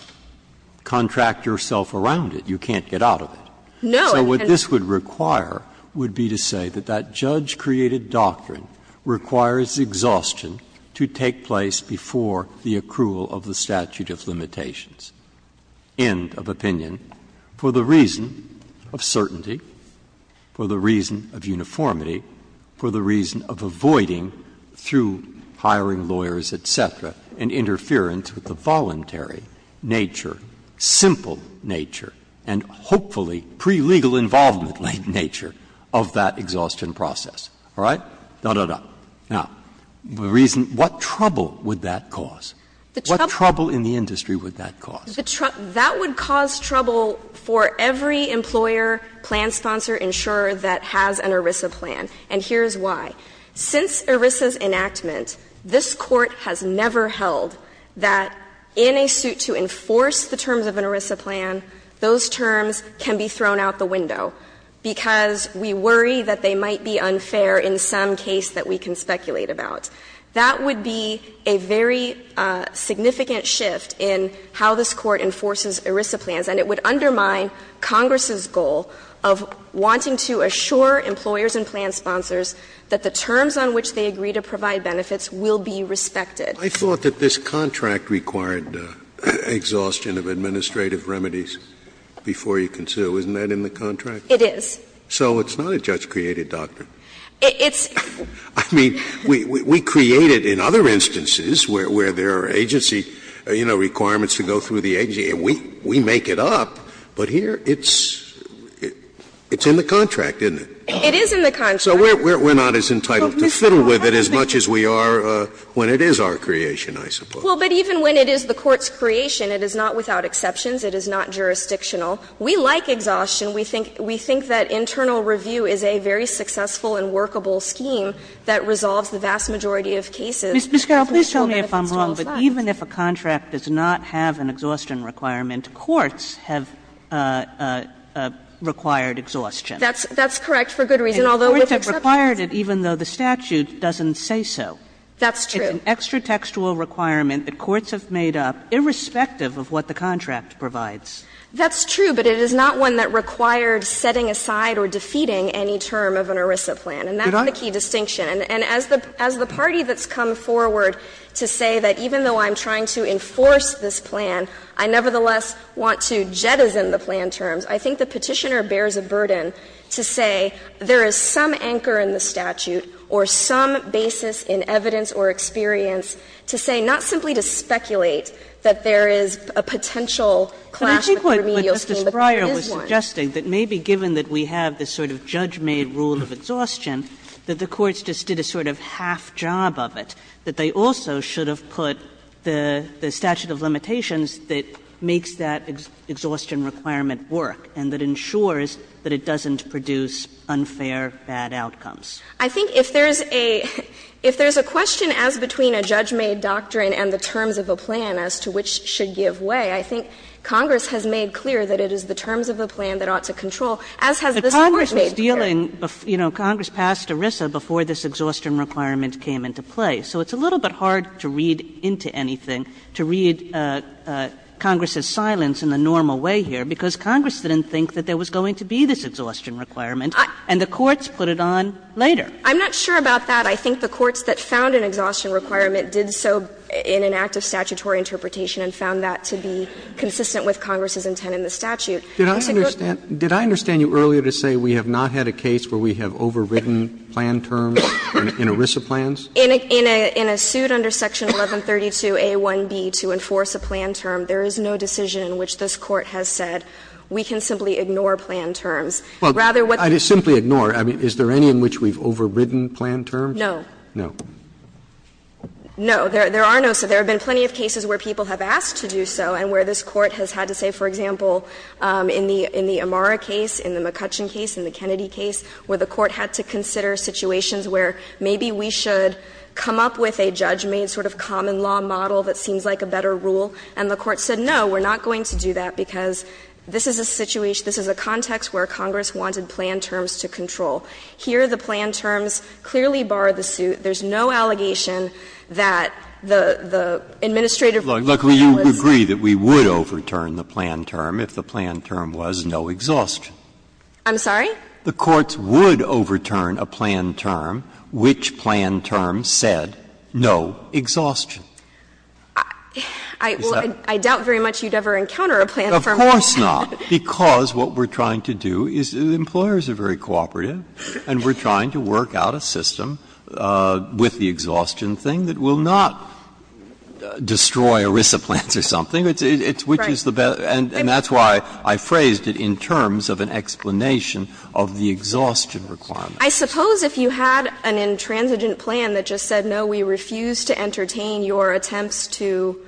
contract yourself around it. You can't get out of it. No. So what this would require would be to say that that judge-created doctrine requires exhaustion to take place before the accrual of the statute of limitations. End of opinion. For the reason of certainty, for the reason of uniformity, for the reason of avoiding through hiring lawyers, et cetera, an interference with the voluntary nature, simple nature, and hopefully pre-legal involvement nature of that exhaustion process. All right? Now, the reason what trouble would that cause? What trouble in the industry would that cause? That would cause trouble for every employer, plan sponsor, insurer that has an ERISA plan. And here's why. Since ERISA's enactment, this Court has never held that in a suit to enforce the terms of an ERISA plan, those terms can be thrown out the window because we worry that they might be unfair in some case that we can speculate about. That would be a very significant shift in how this Court enforces ERISA plans, and it would undermine Congress's goal of wanting to assure employers and plan sponsors that the terms on which they agree to provide benefits will be respected. Scalia I thought that this contract required exhaustion of administrative remedies before you can sue. Isn't that in the contract? Sherry It is. Scalia So it's not a judge-created doctrine. Sherry It's the same. Scalia I mean, we create it in other instances where there are agency, you know, requirements to go through the agency, and we make it up. But here it's in the contract, isn't it? Sherry It is in the contract. Scalia So we're not as entitled to fiddle with it as much as we are when it is our creation, I suppose. Sherry Well, but even when it is the Court's creation, it is not without exceptions. It is not jurisdictional. We like exhaustion. We think that internal review is a very successful and workable scheme that resolves the vast majority of cases. Kagan Ms. Carroll, please tell me if I'm wrong, but even if a contract does not have an exhaustion requirement, courts have required exhaustion. Sherry That's correct for good reason. Although, with exceptions, it's not. Kagan Courts have required it even though the statute doesn't say so. Sherry That's true. Kagan It's an extra-textual requirement that courts have made up irrespective of what the contract provides. Sherry That's true, but it is not one that required setting aside or defeating any term of an ERISA plan. And that's the key distinction. And as the party that's come forward to say that even though I'm trying to enforce this plan, I nevertheless want to jettison the plan terms, I think the Petitioner bears a burden to say there is some anchor in the statute or some basis in evidence or experience to say, not simply to speculate that there is a potential clash with the remedial scheme, but there is one. Kagan But I think what Justice Breyer was suggesting, that maybe given that we have this sort of judge-made rule of exhaustion, that the courts just did a sort of half job of it, that they also should have put the statute of limitations that makes that it doesn't produce unfair, bad outcomes. Sherry I think if there is a question as between a judge-made doctrine and the terms of a plan as to which should give way, I think Congress has made clear that it is the terms of a plan that ought to control, as has the courts made clear. Kagan But Congress was dealing, you know, Congress passed ERISA before this exhaustion requirement came into play. So it's a little bit hard to read into anything, to read Congress's silence in the normal way here, because Congress didn't think that there was going to be this exhaustion requirement. And the courts put it on later. Sherry I'm not sure about that. I think the courts that found an exhaustion requirement did so in an act of statutory interpretation and found that to be consistent with Congress's intent in the statute. Roberts Did I understand you earlier to say we have not had a case where we have overridden plan terms in ERISA plans? Sherry In a suit under section 1132a1b to enforce a plan term, there is no decision in which this Court has said we can simply ignore plan terms. Rather what the Court has said is that we have overridden plan terms in ERISA plans. Roberts Well, I didn't simply ignore. I mean, is there any in which we have overridden plan terms? Sherry No. Roberts No. Sherry No. There are no. So there have been plenty of cases where people have asked to do so and where this Court has had to say, for example, in the Amara case, in the McCutcheon case, in the Kennedy case, where the Court had to consider situations where maybe we should come up with a judgment, sort of common law model that seems like a better rule. And the Court said, no, we're not going to do that, because this is a situation this is a context where Congress wanted plan terms to control. Here the plan terms clearly bar the suit. There's no allegation that the administrative plan was. Breyer Look, you agree that we would overturn the plan term if the plan term was no exhaustion. Sherry I'm sorry? Breyer The courts would overturn a plan term which plan term said no exhaustion. Sherry I will. I doubt very much you'd ever encounter a plan term. Breyer Of course not, because what we're trying to do is employers are very cooperative and we're trying to work out a system with the exhaustion thing that will not destroy ERISA plans or something. It's which is the best. And that's why I phrased it in terms of an explanation of the exhaustion requirement. Sherry I suppose if you had an intransigent plan that just said, no, we refuse to entertain your attempts to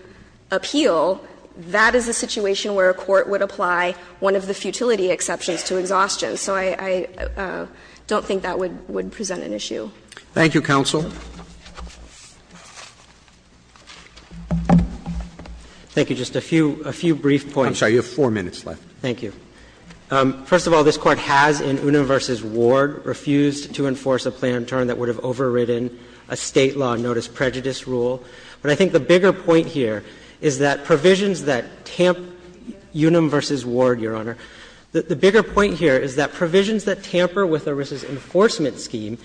appeal, that is a situation where a court would apply one of the futility exceptions to exhaustion. So I don't think that would present an issue. Thank you, counsel. Just a few brief points. I'm sorry, you have four minutes left. Just a few brief points. Thank you. First of all, this Court has in Unum v. Ward refused to enforce a plan term that would not destroy ERISA plans. But I think the bigger point here is that provisions that tamp Unum v. Ward, Your Honor, the bigger point here is that provisions that tamper with ERISA's enforcement scheme,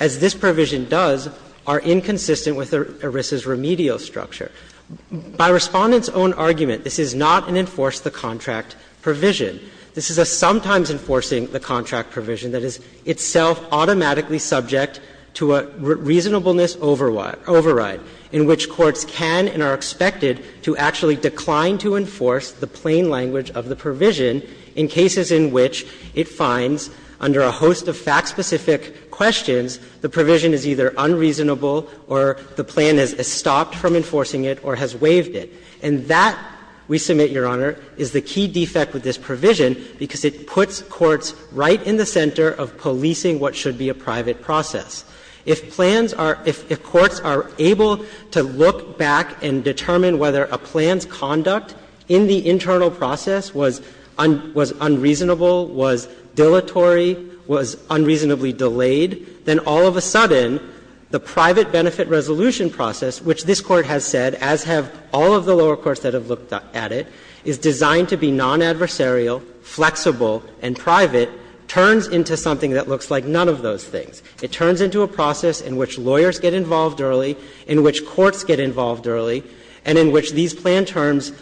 as this provision does, are inconsistent with ERISA's remedial structure. By Respondent's own argument, this is not an enforce-the-contract provision. This is a sometimes-enforcing-the-contract provision that is itself automatically subject to a reasonableness override, in which courts can and are expected to actually decline to enforce the plain language of the provision in cases in which it finds under a host of fact-specific questions, the provision is either unreasonable or the plan has stopped from enforcing it or has waived it. And that, we submit, Your Honor, is the key defect with this provision, because it puts courts right in the center of policing what should be a private process. If plans are – if courts are able to look back and determine whether a plan's conduct in the internal process was unreasonable, was dilatory, was unreasonably delayed, then all of a sudden, the private benefit resolution process, which this Court has said, as have all of the lower courts that have looked at it, is designed to be non-adversarial, flexible, and private, turns into something that looks like none of those things. It turns into a process in which lawyers get involved early, in which courts get involved early, and in which these plan terms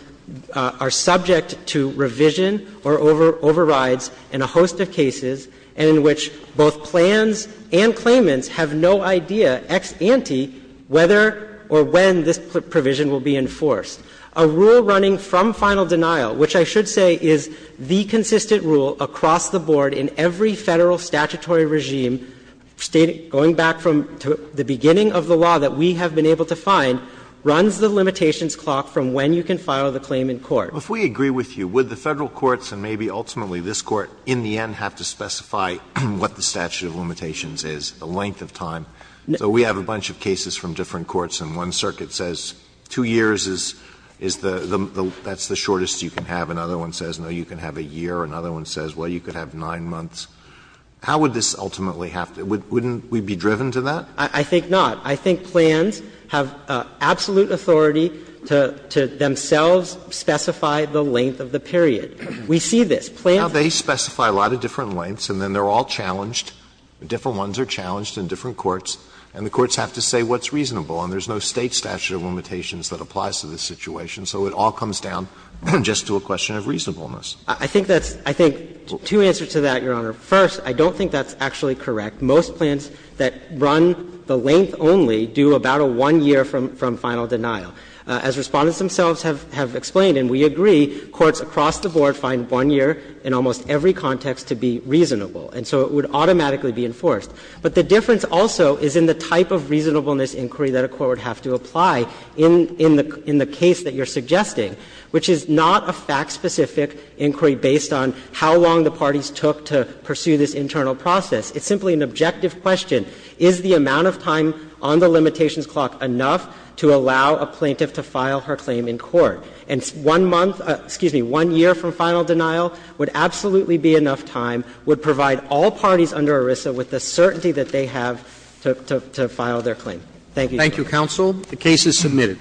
are subject to revision or overrides in a host of cases, and in which both plans and claimants have no idea ex ante whether or when this provision will be enforced. A rule running from final denial, which I should say is the consistent rule across the board in every Federal statutory regime, going back from the beginning of the law that we have been able to find, runs the limitations clock from when you can file the claim in court. Alitono, if we agree with you, would the Federal courts and maybe ultimately this Court in the end have to specify what the statute of limitations is, the length of time? So we have a bunch of cases from different courts, and one circuit says two years is the shortest you can have. Another one says, no, you can have a year. Another one says, well, you could have nine months. How would this ultimately have to be? Wouldn't we be driven to that? I think not. I think plans have absolute authority to themselves specify the length of the period. We see this. Plans. Now, they specify a lot of different lengths, and then they are all challenged and different ones are challenged in different courts, and the courts have to say what's reasonable, and there's no State statute of limitations that applies to this situation. So it all comes down just to a question of reasonableness. I think that's – I think two answers to that, Your Honor. First, I don't think that's actually correct. Most plans that run the length only do about a one year from final denial. As Respondents themselves have explained, and we agree, courts across the board find one year in almost every context to be reasonable, and so it would automatically be enforced. But the difference also is in the type of reasonableness inquiry that a court would have to apply in the case that you're suggesting, which is not a fact-specific inquiry based on how long the parties took to pursue this internal process. It's simply an objective question. Is the amount of time on the limitations clock enough to allow a plaintiff to file her claim in court? And one month – excuse me, one year from final denial would absolutely be enough would provide all parties under ERISA with the certainty that they have to file their claim. Thank you, Your Honor. Thank you, counsel. The case is submitted.